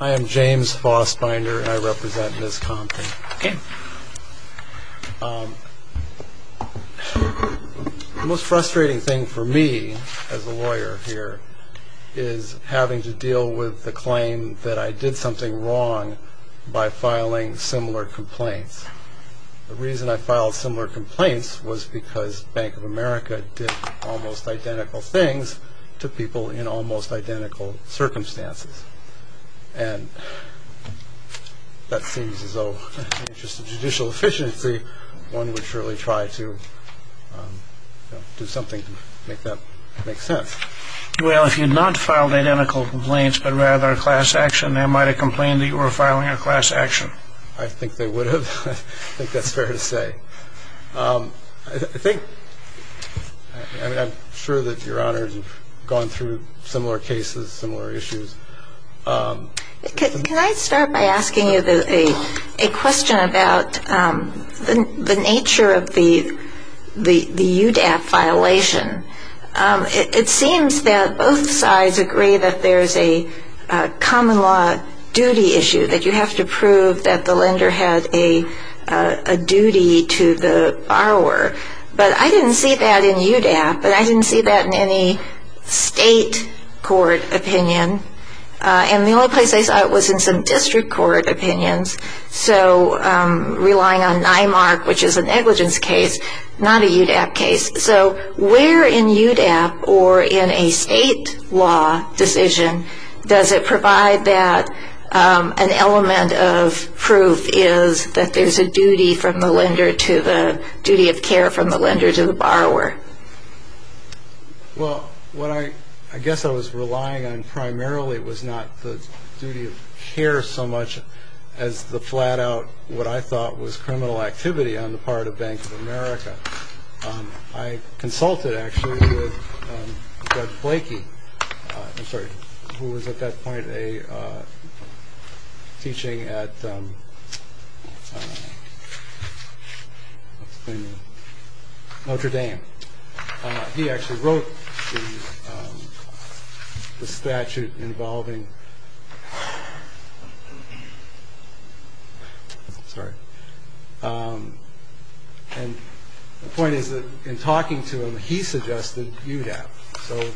I am James Fossbinder and I represent Ms. Compton. The most frustrating thing for me as a lawyer here is having to deal with the claim that I did something wrong by filing similar complaints. The reason I filed similar complaints was because Bank of America did almost identical things to people in almost identical circumstances. And that seems as though in the interest of judicial efficiency, one would surely try to do something to make that make sense. Well, if you had not filed identical complaints, but rather a class action, they might have complained that you were filing a class action. I think they would have. I think that's fair to say. I'm sure that Your Honors have gone through similar cases, similar issues. Can I start by asking you a question about the nature of the UDAP violation? It seems that both sides agree that there's a common law duty issue, that you have to prove that the lender had a duty to the borrower. But I didn't see that in UDAP, and I didn't see that in any state court opinion. And the only place I saw it was in some district court opinions. So relying on NIMAR, which is a negligence case, not a UDAP case. So where in UDAP or in a state law decision does it provide that an element of proof is that there's a duty of care from the lender to the borrower? Well, what I guess I was relying on primarily was not the duty of care so much as the flat-out what I thought was criminal activity on the part of Bank of America. I consulted, actually, with Doug Flakey, who was at that point teaching at Notre Dame. He actually wrote the statute involving – sorry. And the point is that in talking to him, he suggested UDAP. So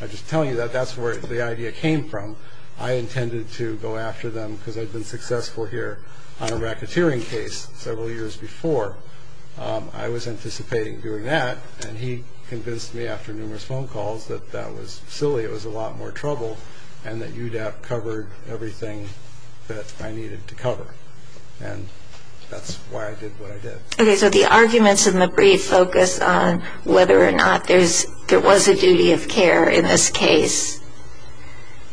I'm just telling you that that's where the idea came from. I intended to go after them because I'd been successful here on a racketeering case several years before. I was anticipating doing that, and he convinced me after numerous phone calls that that was silly, it was a lot more trouble, and that UDAP covered everything that I needed to cover. And that's why I did what I did. Okay, so the arguments in the brief focus on whether or not there was a duty of care in this case.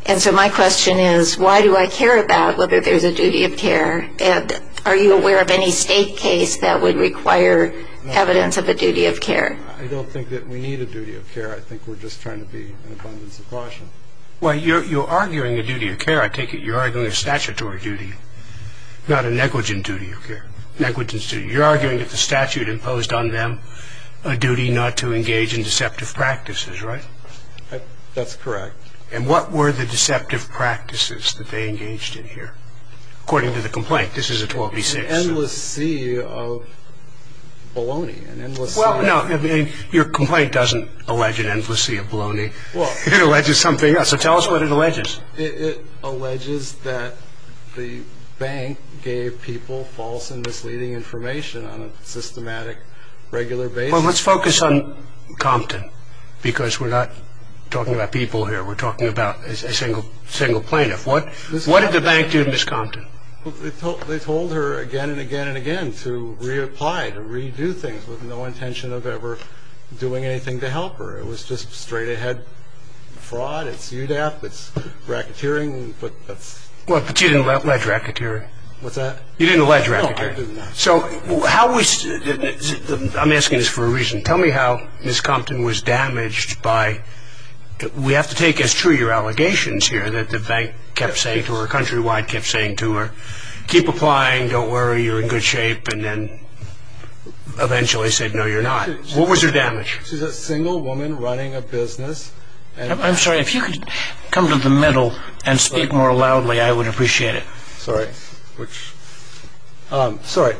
And so my question is, why do I care about whether there's a duty of care? And are you aware of any state case that would require evidence of a duty of care? I don't think that we need a duty of care. I think we're just trying to be in abundance of caution. Well, you're arguing a duty of care, I take it. You're arguing a statutory duty, not a negligent duty of care, negligent duty. You're arguing that the statute imposed on them a duty not to engage in deceptive practices, right? That's correct. And what were the deceptive practices that they engaged in here? According to the complaint, this is a 12b-6. An endless sea of baloney, an endless sea. Well, no, your complaint doesn't allege an endless sea of baloney. It alleges something else. So tell us what it alleges. It alleges that the bank gave people false and misleading information on a systematic, regular basis. Well, let's focus on Compton because we're not talking about people here. We're talking about a single plaintiff. What did the bank do to Ms. Compton? They told her again and again and again to reapply, to redo things, with no intention of ever doing anything to help her. It was just straight-ahead fraud. It's UDAP. It's racketeering. Well, but you didn't allege racketeering. What's that? You didn't allege racketeering. No, I didn't. I'm asking this for a reason. Tell me how Ms. Compton was damaged by – we have to take as true your allegations here that the bank kept saying to her, Countrywide kept saying to her, keep applying, don't worry, you're in good shape, and then eventually said, no, you're not. What was her damage? She's a single woman running a business. I'm sorry, if you could come to the middle and speak more loudly, I would appreciate it. Sorry. Sorry.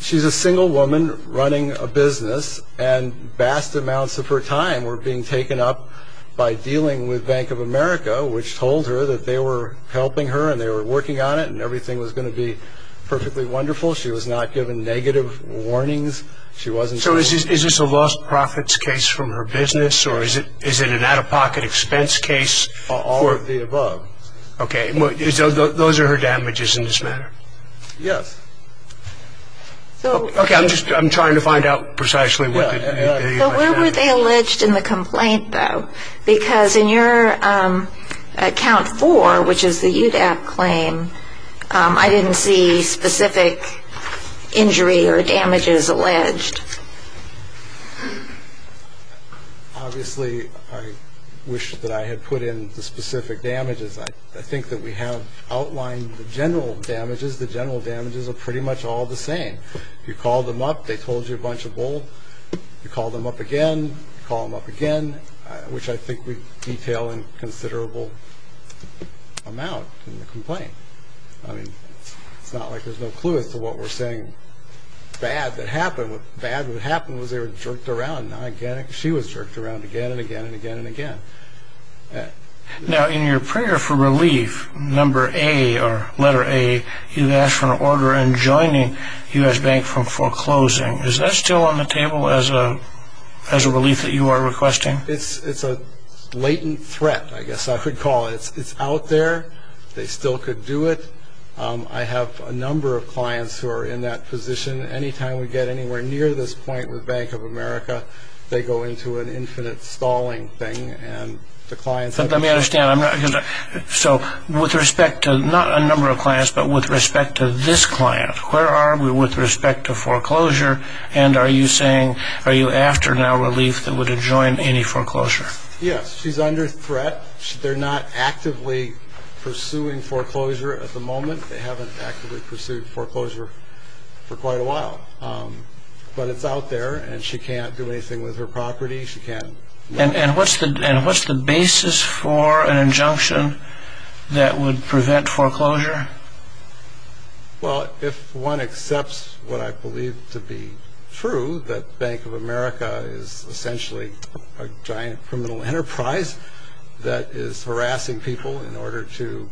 She's a single woman running a business, and vast amounts of her time were being taken up by dealing with Bank of America, which told her that they were helping her and they were working on it and everything was going to be perfectly wonderful. She was not given negative warnings. So is this a lost profits case from her business, or is it an out-of-pocket expense case? All of the above. Okay. Those are her damages in this matter. Yes. Okay, I'm just trying to find out precisely what they did. So where were they alleged in the complaint, though? Because in your account four, which is the UDAP claim, I didn't see specific injury or damages alleged. Obviously, I wish that I had put in the specific damages. I think that we have outlined the general damages. The general damages are pretty much all the same. You call them up, they told you a bunch of bull. You call them up again, you call them up again, which I think we detail in considerable amount in the complaint. I mean, it's not like there's no clue as to what we're saying bad that happened. What bad would happen was they were jerked around. She was jerked around again and again and again and again. Now, in your prayer for relief, number A or letter A, you asked for an order in joining U.S. Bank for foreclosing. Is that still on the table as a relief that you are requesting? It's a latent threat, I guess I could call it. It's out there. They still could do it. I have a number of clients who are in that position. Anytime we get anywhere near this point with Bank of America, they go into an infinite stalling thing. Let me understand. So with respect to not a number of clients, but with respect to this client, where are we with respect to foreclosure? And are you saying, are you after now relief that would adjoin any foreclosure? Yes, she's under threat. They're not actively pursuing foreclosure at the moment. They haven't actively pursued foreclosure for quite a while. But it's out there, and she can't do anything with her property. And what's the basis for an injunction that would prevent foreclosure? Well, if one accepts what I believe to be true, that Bank of America is essentially a giant criminal enterprise that is harassing people in order to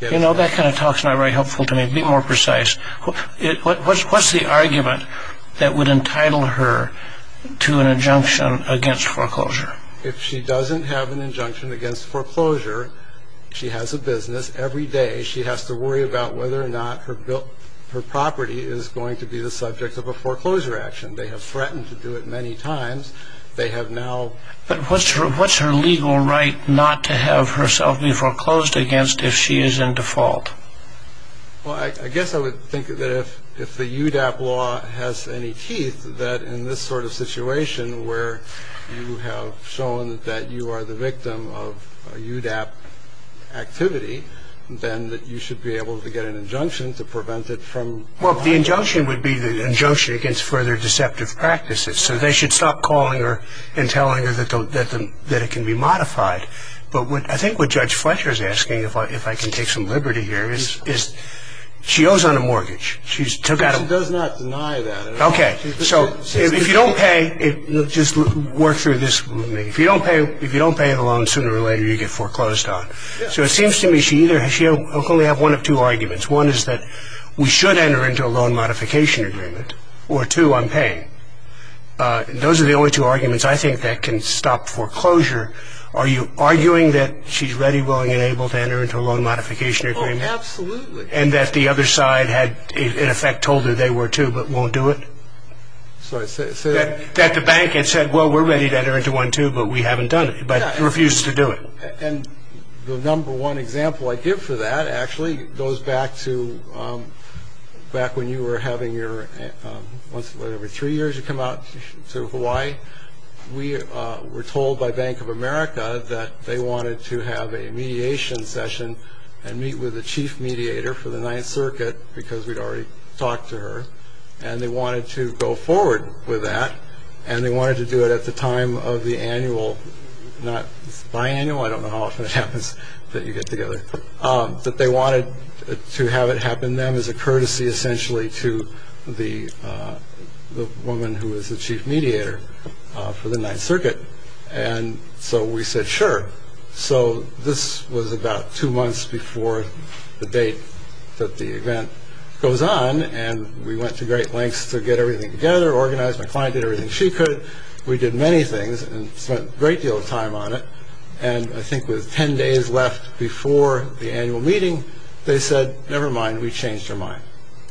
get… You know, that kind of talk is not very helpful to me. Be more precise. What's the argument that would entitle her to an injunction against foreclosure? If she doesn't have an injunction against foreclosure, she has a business every day. She has to worry about whether or not her property is going to be the subject of a foreclosure action. They have threatened to do it many times. They have now… But what's her legal right not to have herself be foreclosed against if she is in default? Well, I guess I would think that if the UDAP law has any teeth, that in this sort of situation where you have shown that you are the victim of a UDAP activity, then that you should be able to get an injunction to prevent it from… Well, the injunction would be the injunction against further deceptive practices. So they should stop calling her and telling her that it can be modified. But I think what Judge Fletcher is asking, if I can take some liberty here, is she owes on a mortgage. She does not deny that at all. Okay. So if you don't pay… Just work through this with me. If you don't pay the loan sooner or later, you get foreclosed on. So it seems to me she only has one of two arguments. One is that we should enter into a loan modification agreement, or two, I'm paying. Those are the only two arguments I think that can stop foreclosure. Are you arguing that she's ready, willing, and able to enter into a loan modification agreement? Oh, absolutely. And that the other side had, in effect, told her they were too but won't do it? That the bank had said, well, we're ready to enter into one too, but we haven't done it, but refused to do it. And the number one example I give for that actually goes back to back when you were having your, what, every three years you come out to Hawaii? We were told by Bank of America that they wanted to have a mediation session and meet with the chief mediator for the Ninth Circuit because we'd already talked to her. And they wanted to go forward with that. And they wanted to do it at the time of the annual, not biannual, I don't know how often it happens that you get together, but they wanted to have it happen then as a courtesy, essentially, to the woman who was the chief mediator for the Ninth Circuit. And so we said, sure. So this was about two months before the date that the event goes on, and we went to great lengths to get everything together, organize. My client did everything she could. We did many things and spent a great deal of time on it. And I think with ten days left before the annual meeting, they said, never mind. We changed her mind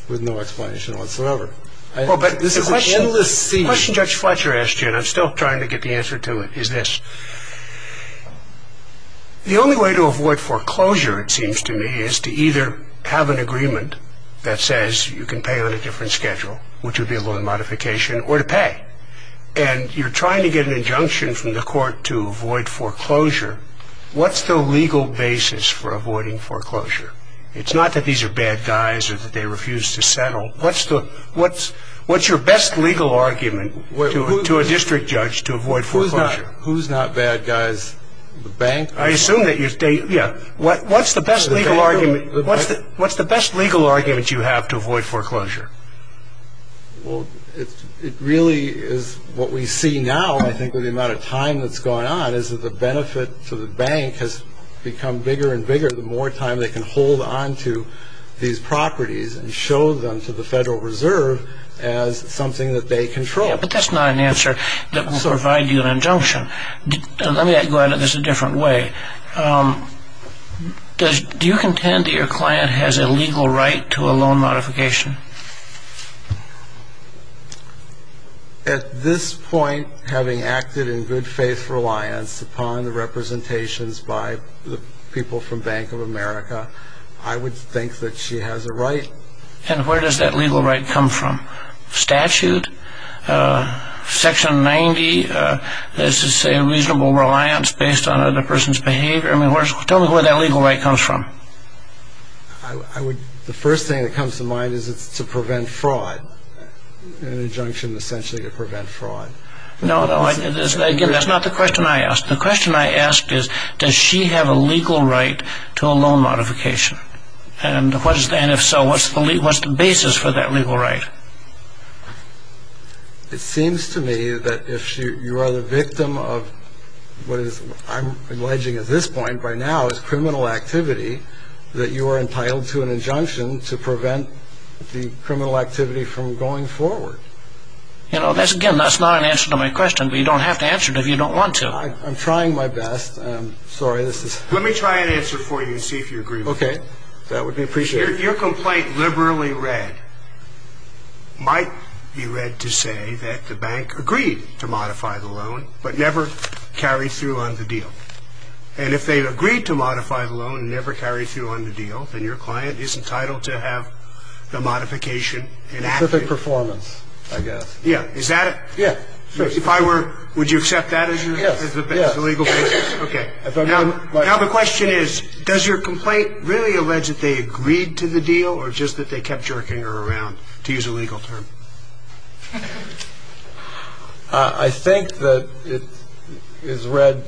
with no explanation whatsoever. Well, but this is an endless series. The question Judge Fletcher asked you, and I'm still trying to get the answer to it, is this. The only way to avoid foreclosure, it seems to me, is to either have an agreement that says you can pay on a different schedule, which would be a loan modification, or to pay. And you're trying to get an injunction from the court to avoid foreclosure. What's the legal basis for avoiding foreclosure? It's not that these are bad guys or that they refuse to settle. What's your best legal argument to a district judge to avoid foreclosure? Who's not bad guys? The bank? I assume that you're saying, yeah, what's the best legal argument you have to avoid foreclosure? Well, it really is what we see now, I think, with the amount of time that's going on, is that the benefit to the bank has become bigger and bigger the more time they can hold on to these properties and show them to the Federal Reserve as something that they control. But that's not an answer that will provide you an injunction. Let me go at this a different way. Do you contend that your client has a legal right to a loan modification? At this point, having acted in good faith reliance upon the representations by the people from Bank of America, I would think that she has a right. And where does that legal right come from? Statute? Section 90? Does it say reasonable reliance based on another person's behavior? Tell me where that legal right comes from. The first thing that comes to mind is it's to prevent fraud, an injunction essentially to prevent fraud. No, no, again, that's not the question I asked. The question I asked is, does she have a legal right to a loan modification? And if so, what's the basis for that legal right? It seems to me that if you are the victim of what I'm alleging at this point by now is criminal activity, that you are entitled to an injunction to prevent the criminal activity from going forward. Again, that's not an answer to my question, but you don't have to answer it if you don't want to. I'm trying my best. Let me try and answer it for you and see if you agree with me. Okay, that would be appreciated. Your complaint liberally read might be read to say that the bank agreed to modify the loan, but never carried through on the deal. And if they agreed to modify the loan and never carried through on the deal, then your client is entitled to have the modification enacted. Specific performance, I guess. Yeah, is that it? Yeah. Would you accept that as the legal basis? Okay. Now the question is, does your complaint really allege that they agreed to the deal or just that they kept jerking her around, to use a legal term? I think that it is read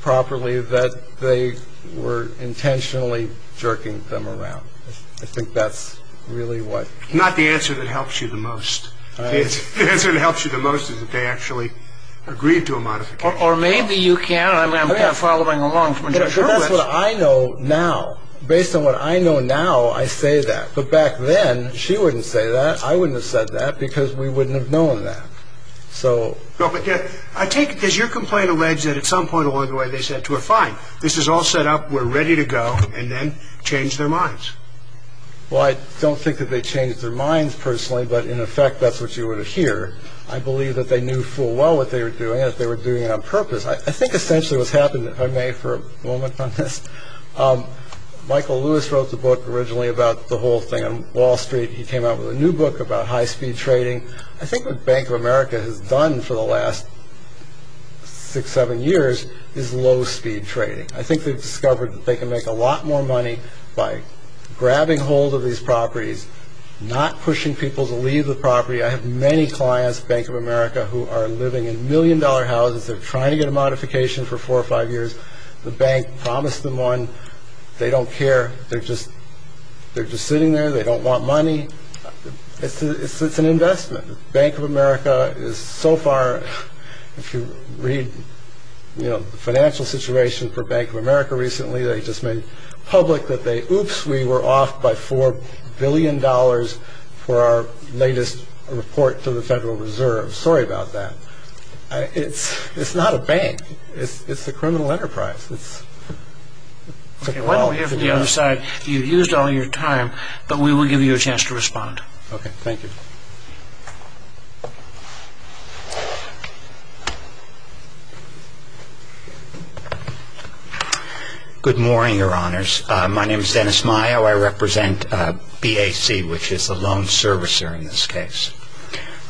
properly that they were intentionally jerking them around. I think that's really what came up. Not the answer that helps you the most. The answer that helps you the most is that they actually agreed to a modification. Or maybe you can. I'm following along. That's what I know now. Based on what I know now, I say that. But back then, she wouldn't say that. I wouldn't have said that because we wouldn't have known that. Does your complaint allege that at some point along the way they said to her, fine, this is all set up, we're ready to go, and then change their minds? Well, I don't think that they changed their minds personally, but in effect that's what you would hear. I believe that they knew full well what they were doing and if they were doing it on purpose. I think essentially what's happened, if I may for a moment on this, Michael Lewis wrote the book originally about the whole thing on Wall Street. He came out with a new book about high-speed trading. I think what Bank of America has done for the last six, seven years is low-speed trading. I think they've discovered that they can make a lot more money by grabbing hold of these properties, not pushing people to leave the property. I have many clients at Bank of America who are living in million-dollar houses. They're trying to get a modification for four or five years. The bank promised them one. They don't care. They're just sitting there. They don't want money. It's an investment. Bank of America is so far, if you read the financial situation for Bank of America recently, they just made public that they, oops, we were off by $4 billion for our latest report to the Federal Reserve. Sorry about that. It's not a bank. It's a criminal enterprise. Why don't we hear from the other side? You've used all your time, but we will give you a chance to respond. Okay. Thank you. Good morning, Your Honors. My name is Dennis Mayo. I represent BAC, which is the loan servicer in this case.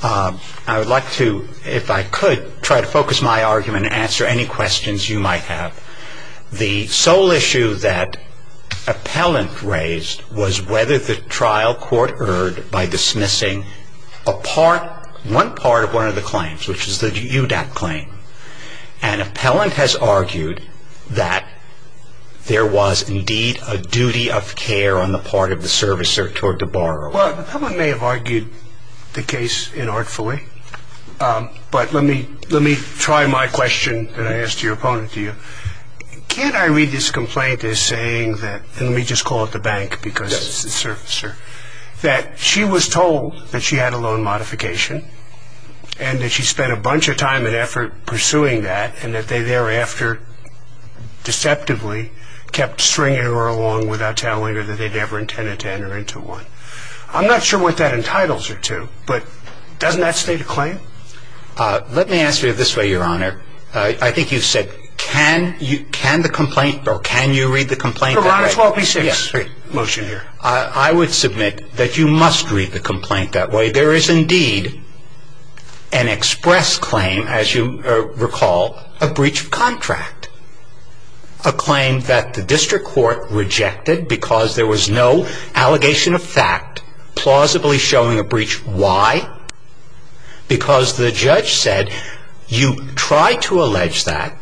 I would like to, if I could, try to focus my argument and answer any questions you might have. The sole issue that appellant raised was whether the trial court erred by dismissing a part, one part of one of the claims, which is the UDAP claim. And appellant has argued that there was indeed a duty of care on the part of the servicer toward the borrower. Well, the appellant may have argued the case inartfully, but let me try my question that I asked your opponent to you. Can I read this complaint as saying that, and let me just call it the bank because it's the servicer, that she was told that she had a loan modification and that she spent a bunch of time and effort pursuing that and that they thereafter deceptively kept stringing her along without telling her that they'd ever intended to enter into one. I'm not sure what that entitles her to, but doesn't that state a claim? Let me answer it this way, Your Honor. I think you said, can you read the complaint that way? Your Honor, 12B-6, motion here. I would submit that you must read the complaint that way. There is indeed an express claim, as you recall, a breach of contract, a claim that the district court rejected because there was no allegation of fact plausibly showing a breach. Why? Because the judge said you tried to allege that.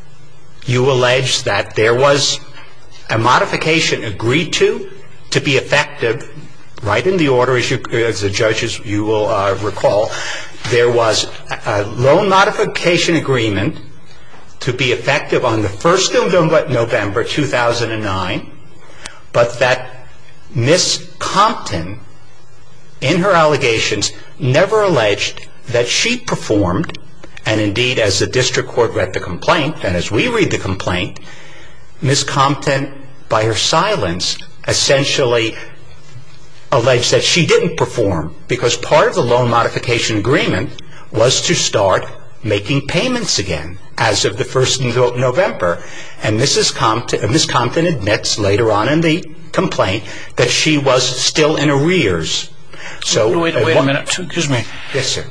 You allege that there was a modification agreed to, to be effective. Right in the order, as the judge, as you will recall, there was a loan modification agreement to be effective on the 1st of November, 2009, but that Ms. Compton, in her allegations, never alleged that she performed, and indeed as the district court read the complaint, and as we read the complaint, Ms. Compton, by her silence, essentially alleged that she didn't perform because part of the loan modification agreement was to start making payments again as of the 1st of November, and Ms. Compton admits later on in the complaint that she was still in arrears. Wait a minute. Excuse me. Yes, sir.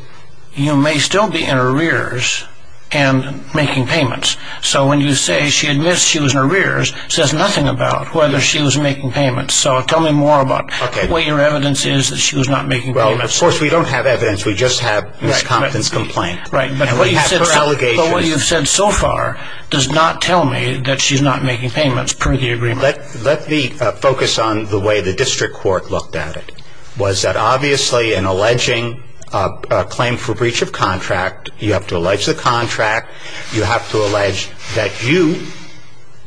You may still be in arrears and making payments, so when you say she admits she was in arrears, it says nothing about whether she was making payments, so tell me more about what your evidence is that she was not making payments. Well, of course, we don't have evidence. We just have Ms. Compton's complaint. Right, but what you've said so far does not tell me that she's not making payments per the agreement. Let me focus on the way the district court looked at it. Was that obviously in alleging a claim for breach of contract, you have to allege the contract, you have to allege that you,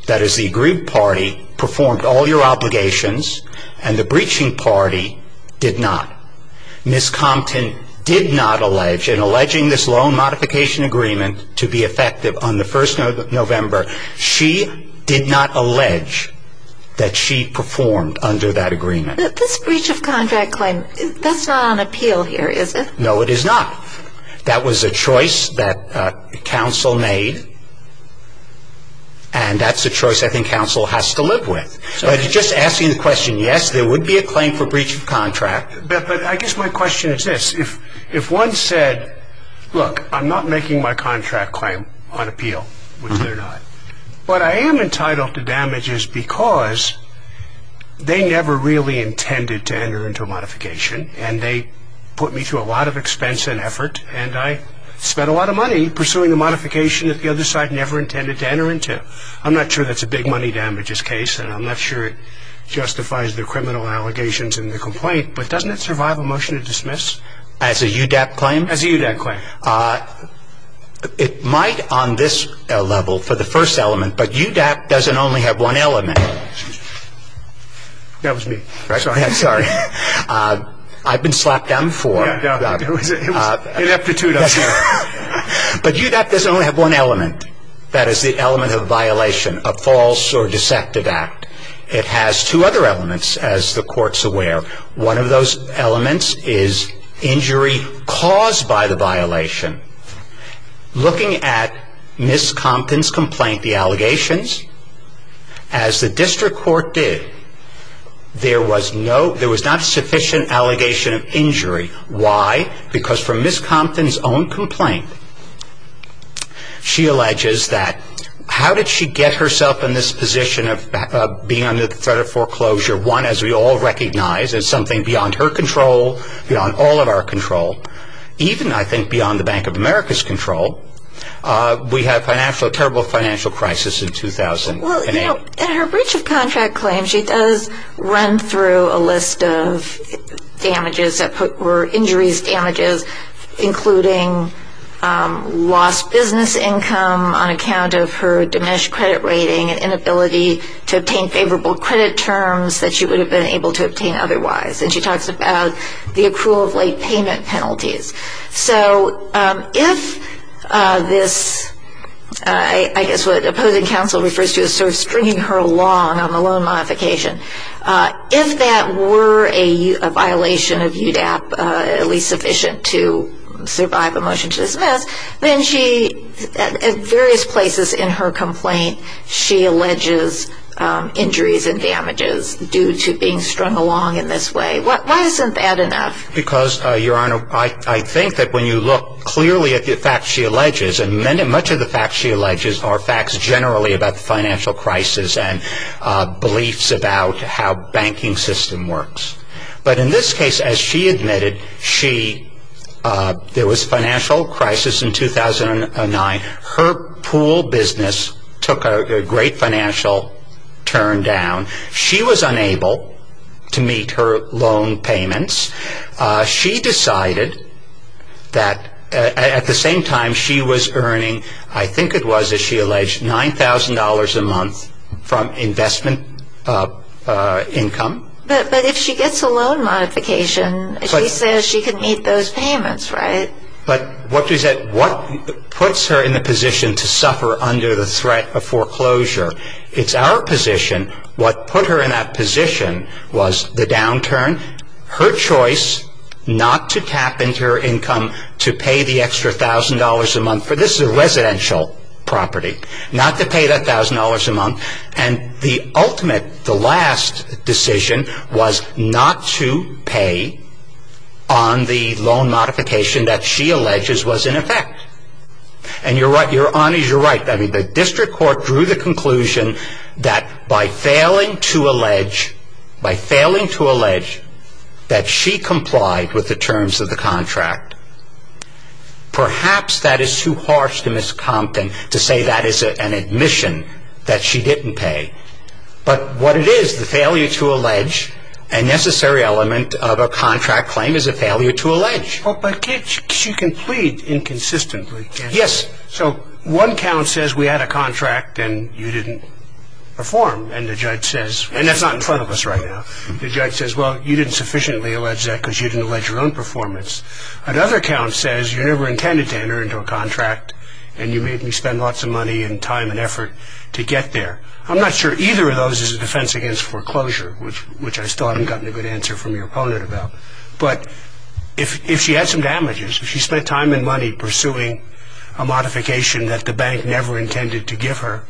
that is the aggrieved party, performed all your obligations, and the breaching party did not. Ms. Compton did not allege, in alleging this loan modification agreement to be effective on the 1st of November, she did not allege that she performed under that agreement. This breach of contract claim, that's not on appeal here, is it? No, it is not. That was a choice that counsel made, and that's a choice I think counsel has to live with. But it's just asking the question, yes, there would be a claim for breach of contract. But I guess my question is this. If one said, look, I'm not making my contract claim on appeal, which they're not, but I am entitled to damages because they never really intended to enter into a modification, and they put me through a lot of expense and effort, and I spent a lot of money pursuing the modification that the other side never intended to enter into. I'm not sure that's a big money damages case, and I'm not sure it justifies the criminal allegations in the complaint, but doesn't it survive a motion to dismiss? As a UDAP claim? As a UDAP claim. It might on this level for the first element, but UDAP doesn't only have one element. That was me. Sorry. I've been slapped down four. Ineptitude. But UDAP doesn't only have one element. That is the element of violation, a false or deceptive act. It has two other elements, as the court's aware. One of those elements is injury caused by the violation. Looking at Ms. Compton's complaint, the allegations, as the district court did, there was not sufficient allegation of injury. Why? Because from Ms. Compton's own complaint, she alleges that how did she get herself in this position of being under the threat of foreclosure, one, as we all recognize, as something beyond her control, beyond all of our control, even, I think, beyond the Bank of America's control. We had a terrible financial crisis in 2008. In her breach of contract claim, she does run through a list of injuries, damages, including lost business income on account of her diminished credit rating and inability to obtain favorable credit terms that she would have been able to obtain otherwise. And she talks about the accrual of late payment penalties. So if this, I guess what opposing counsel refers to as sort of stringing her along on the loan modification, if that were a violation of UDAP, at least sufficient to survive a motion to dismiss, then she, at various places in her complaint, she alleges injuries and damages due to being strung along in this way. Why isn't that enough? Because, Your Honor, I think that when you look clearly at the facts she alleges, and much of the facts she alleges are facts generally about the financial crisis and beliefs about how banking system works. But in this case, as she admitted, there was financial crisis in 2009. Her pool business took a great financial turn down. She was unable to meet her loan payments. She decided that at the same time she was earning, I think it was as she alleged, $9,000 a month from investment income. But if she gets a loan modification, she says she can meet those payments, right? But what puts her in the position to suffer under the threat of foreclosure? It's our position, what put her in that position was the downturn, her choice not to tap into her income to pay the extra $1,000 a month. This is a residential property. Not to pay that $1,000 a month. And the ultimate, the last decision was not to pay on the loan modification that she alleges was in effect. And you're right, your honor, you're right. The district court drew the conclusion that by failing to allege that she complied with the terms of the contract, perhaps that is too harsh to Ms. Compton to say that is an admission that she didn't pay. But what it is, the failure to allege a necessary element of a contract claim is a failure to allege. But she can plead inconsistently. Yes. So one count says we had a contract and you didn't perform. And the judge says, and that's not in front of us right now, the judge says, well, you didn't sufficiently allege that because you didn't allege your own performance. Another count says you never intended to enter into a contract and you made me spend lots of money and time and effort to get there. I'm not sure either of those is a defense against foreclosure, which I still haven't gotten a good answer from your opponent about. But if she had some damages, if she spent time and money pursuing a modification that the bank never intended to give her,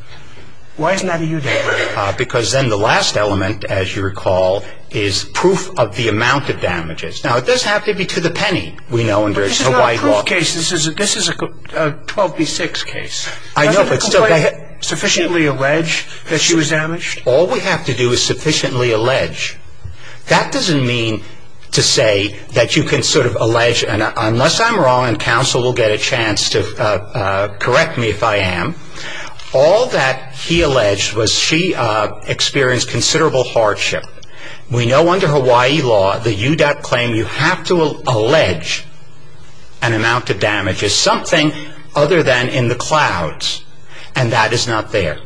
why isn't that a eudectomy? Because then the last element, as you recall, is proof of the amount of damages. Now, it doesn't have to be to the penny. We know under the white law. But this is not a proof case. This is a 12 v. 6 case. I know, but still. Doesn't the complaint sufficiently allege that she was damaged? All we have to do is sufficiently allege. That doesn't mean to say that you can sort of allege. Unless I'm wrong, and counsel will get a chance to correct me if I am, all that he alleged was she experienced considerable hardship. We know under Hawaii law, the euduct claim, you have to allege an amount of damages, something other than in the clouds. And that is not there.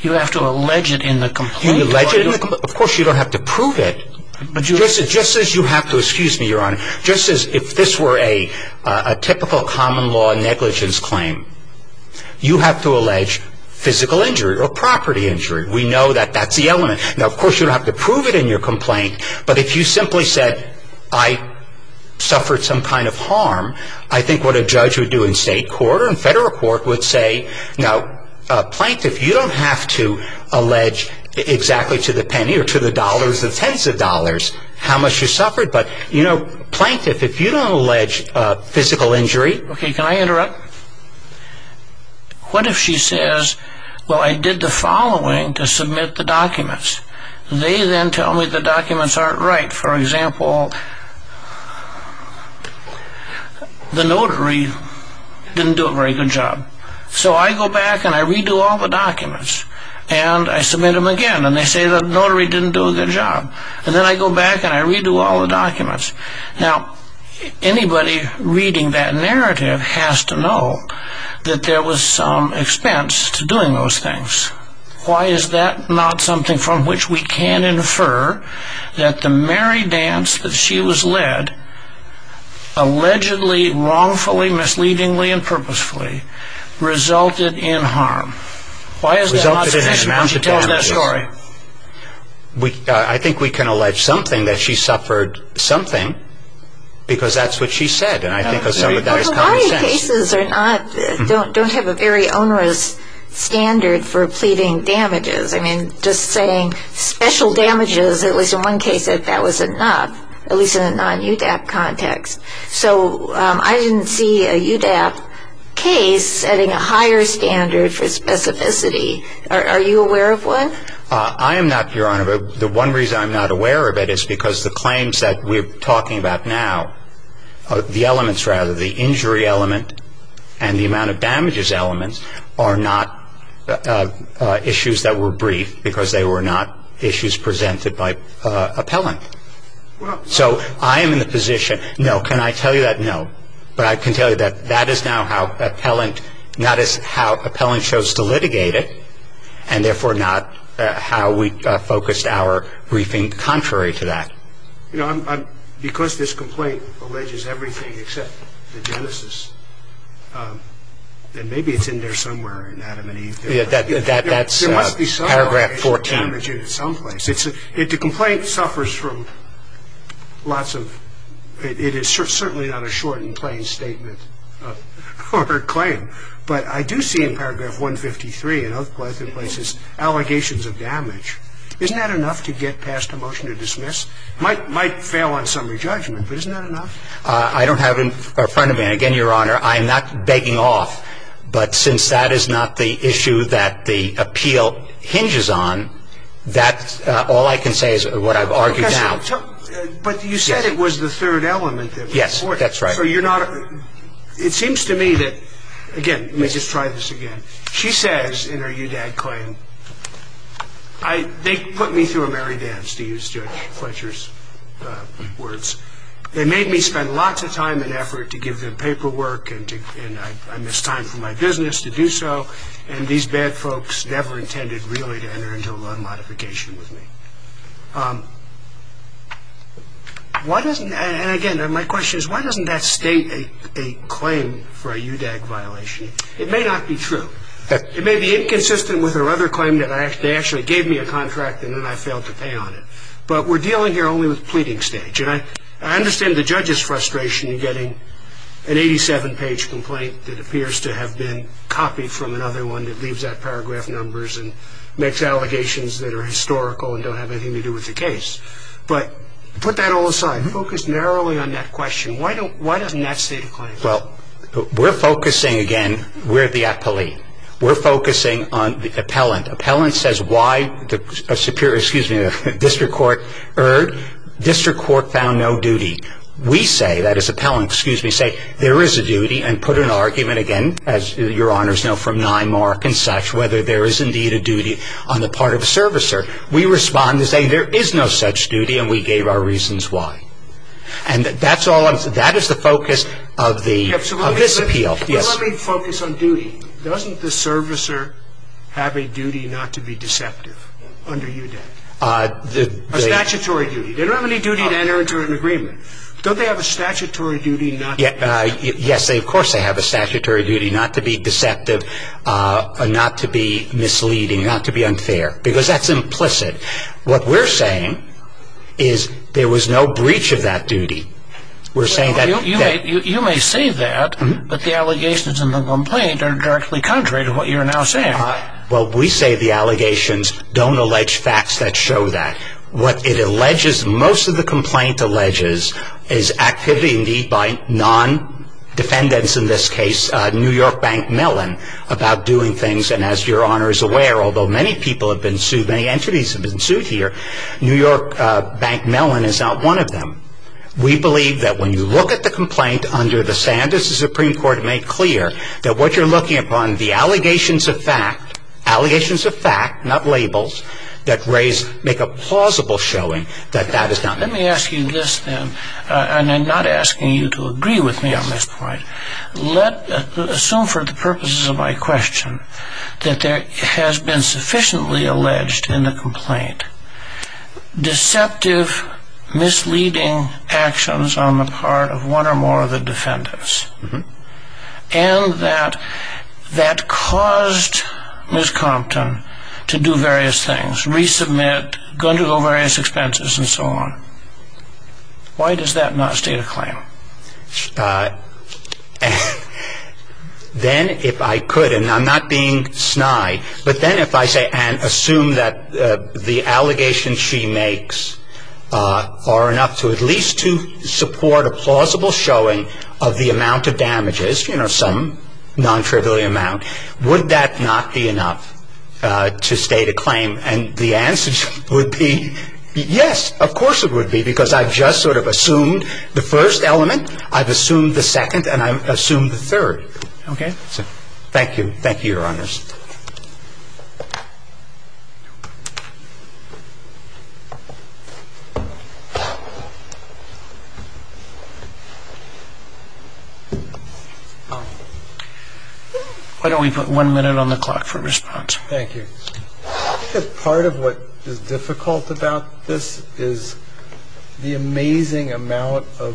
You have to allege it in the complaint? You allege it in the complaint? Of course, you don't have to prove it. Just as you have to, excuse me, Your Honor, just as if this were a typical common law negligence claim, you have to allege physical injury or property injury. We know that that's the element. Now, of course, you don't have to prove it in your complaint. But if you simply said, I suffered some kind of harm, I think what a judge would do in state court or in federal court would say, now, plaintiff, you don't have to allege exactly to the penny or to the dollars, the tens of dollars, how much you suffered. But, you know, plaintiff, if you don't allege physical injury. Okay, can I interrupt? What if she says, well, I did the following to submit the documents. They then tell me the documents aren't right. For example, the notary didn't do a very good job. So I go back and I redo all the documents. And I submit them again. And they say the notary didn't do a good job. And then I go back and I redo all the documents. Now, anybody reading that narrative has to know that there was some expense to doing those things. Why is that not something from which we can infer that the merry dance that she was led, allegedly, wrongfully, misleadingly, and purposefully, resulted in harm? Why is that not sufficient when she tells that story? I think we can allege something, that she suffered something, because that's what she said. And I think that's common sense. Well, variety of cases don't have a very onerous standard for pleading damages. I mean, just saying special damages, at least in one case, if that was enough, at least in a non-UDAP context. So I didn't see a UDAP case setting a higher standard for specificity. Are you aware of one? I am not, Your Honor. The one reason I'm not aware of it is because the claims that we're talking about now, the elements, rather, the injury element and the amount of damages element, are not issues that were briefed because they were not issues presented by appellant. So I am in the position, no, can I tell you that? No. But I can tell you that that is now how appellant chose to litigate it, and therefore not how we focused our briefing contrary to that. You know, because this complaint alleges everything except the genesis, and maybe it's in there somewhere in Adam and Eve. That's paragraph 14. There must be some damage in it someplace. The complaint suffers from lots of – it is certainly not a short and plain statement or claim, but I do see in paragraph 153 and other places allegations of damage. Isn't that enough to get past a motion to dismiss? It might fail on summary judgment, but isn't that enough? I don't have in front of me, and again, Your Honor, I am not begging off, but since that is not the issue that the appeal hinges on, that's all I can say is what I've argued now. But you said it was the third element. Yes, that's right. So you're not – it seems to me that – again, let me just try this again. She says in her UDAD claim, they put me through a merry dance, to use Judge Fletcher's words. They made me spend lots of time and effort to give them paperwork, and I missed time for my business to do so, and these bad folks never intended really to enter into a loan modification with me. Why doesn't – and again, my question is why doesn't that state a claim for a UDAG violation? It may not be true. It may be inconsistent with her other claim that they actually gave me a contract and then I failed to pay on it. But we're dealing here only with the pleading stage, and I understand the judge's frustration in getting an 87-page complaint that appears to have been copied from another one that leaves out paragraph numbers and makes allegations that are historical and don't have anything to do with the case. But put that all aside, focus narrowly on that question. Why doesn't that state a claim? Well, we're focusing, again, we're the appellee. We're focusing on the appellant. Appellant says why the Superior – excuse me – District Court found no duty. We say, that is appellant, excuse me, say there is a duty and put an argument again, as your honors know from NIMARC and such, whether there is indeed a duty on the part of a servicer. We respond to say there is no such duty and we gave our reasons why. And that's all – that is the focus of this appeal. Well, let me focus on duty. Doesn't the servicer have a duty not to be deceptive under UDAC? A statutory duty. They don't have any duty to enter into an agreement. Don't they have a statutory duty not to be deceptive? Yes, of course they have a statutory duty not to be deceptive, not to be misleading, not to be unfair, because that's implicit. What we're saying is there was no breach of that duty. You may say that, but the allegations in the complaint are directly contrary to what you're now saying. Well, we say the allegations don't allege facts that show that. What it alleges, most of the complaint alleges, is activity indeed by non-defendants, in this case New York Bank Mellon, about doing things, and as your honors are aware, although many people have been sued, many entities have been sued here, New York Bank Mellon is not one of them. We believe that when you look at the complaint under the standards the Supreme Court made clear, that what you're looking upon, the allegations of fact, allegations of fact, not labels, that make a plausible showing that that is not true. Let me ask you this then, and I'm not asking you to agree with me on this point. Assume for the purposes of my question that there has been sufficiently alleged in the complaint deceptive, misleading actions on the part of one or more of the defendants, and that that caused Ms. Compton to do various things, resubmit, undergo various expenses, and so on. Why does that not state a claim? Then, if I could, and I'm not being snide, but then if I say, and assume that the allegations she makes are enough to at least to support a plausible showing of the amount of damages, you know, some non-trivial amount, would that not be enough to state a claim? And the answer would be yes, of course it would be, because I've just sort of assumed the first element, I've assumed the second, and I've assumed the third. Okay. Thank you. Thank you, Your Honors. Why don't we put one minute on the clock for response? Thank you. I think that part of what is difficult about this is the amazing amount of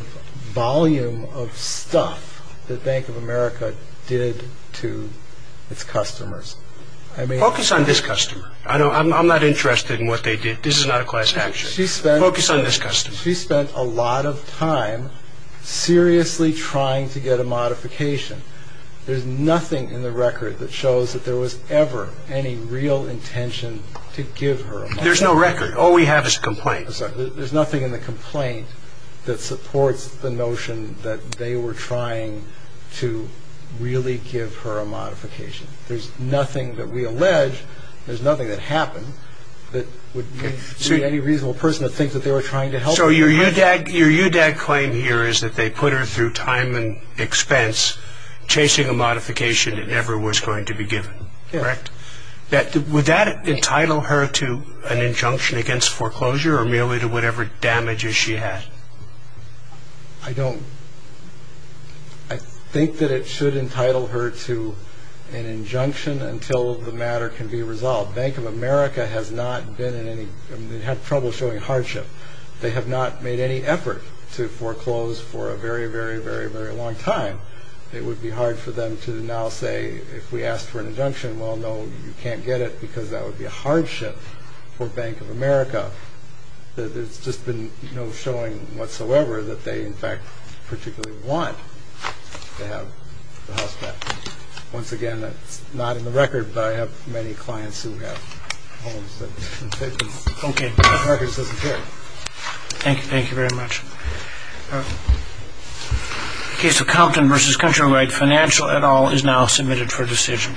volume of stuff that Bank of America did to its customers. Focus on this customer. I'm not interested in what they did. This is not a class action. Focus on this customer. She spent a lot of time seriously trying to get a modification. There's nothing in the record that shows that there was ever any real intention to give her a modification. There's no record. All we have is a complaint. There's nothing in the complaint that supports the notion that they were trying to really give her a modification. There's nothing that we allege, there's nothing that happened, that would make any reasonable person to think that they were trying to help her. So your UDAG claim here is that they put her through time and expense, chasing a modification that never was going to be given, correct? Would that entitle her to an injunction against foreclosure or merely to whatever damages she had? I think that it should entitle her to an injunction until the matter can be resolved. Bank of America has not been in any trouble showing hardship. They have not made any effort to foreclose for a very, very, very, very long time. It would be hard for them to now say, if we ask for an injunction, well, no, you can't get it, because that would be a hardship for Bank of America. There's just been no showing whatsoever that they, in fact, particularly want to have the house back. Once again, it's not in the record, but I have many clients who have homes that have been taken. Okay. The records doesn't care. Thank you, thank you very much. The case of Compton v. Countrywide, financial et al. is now submitted for decision.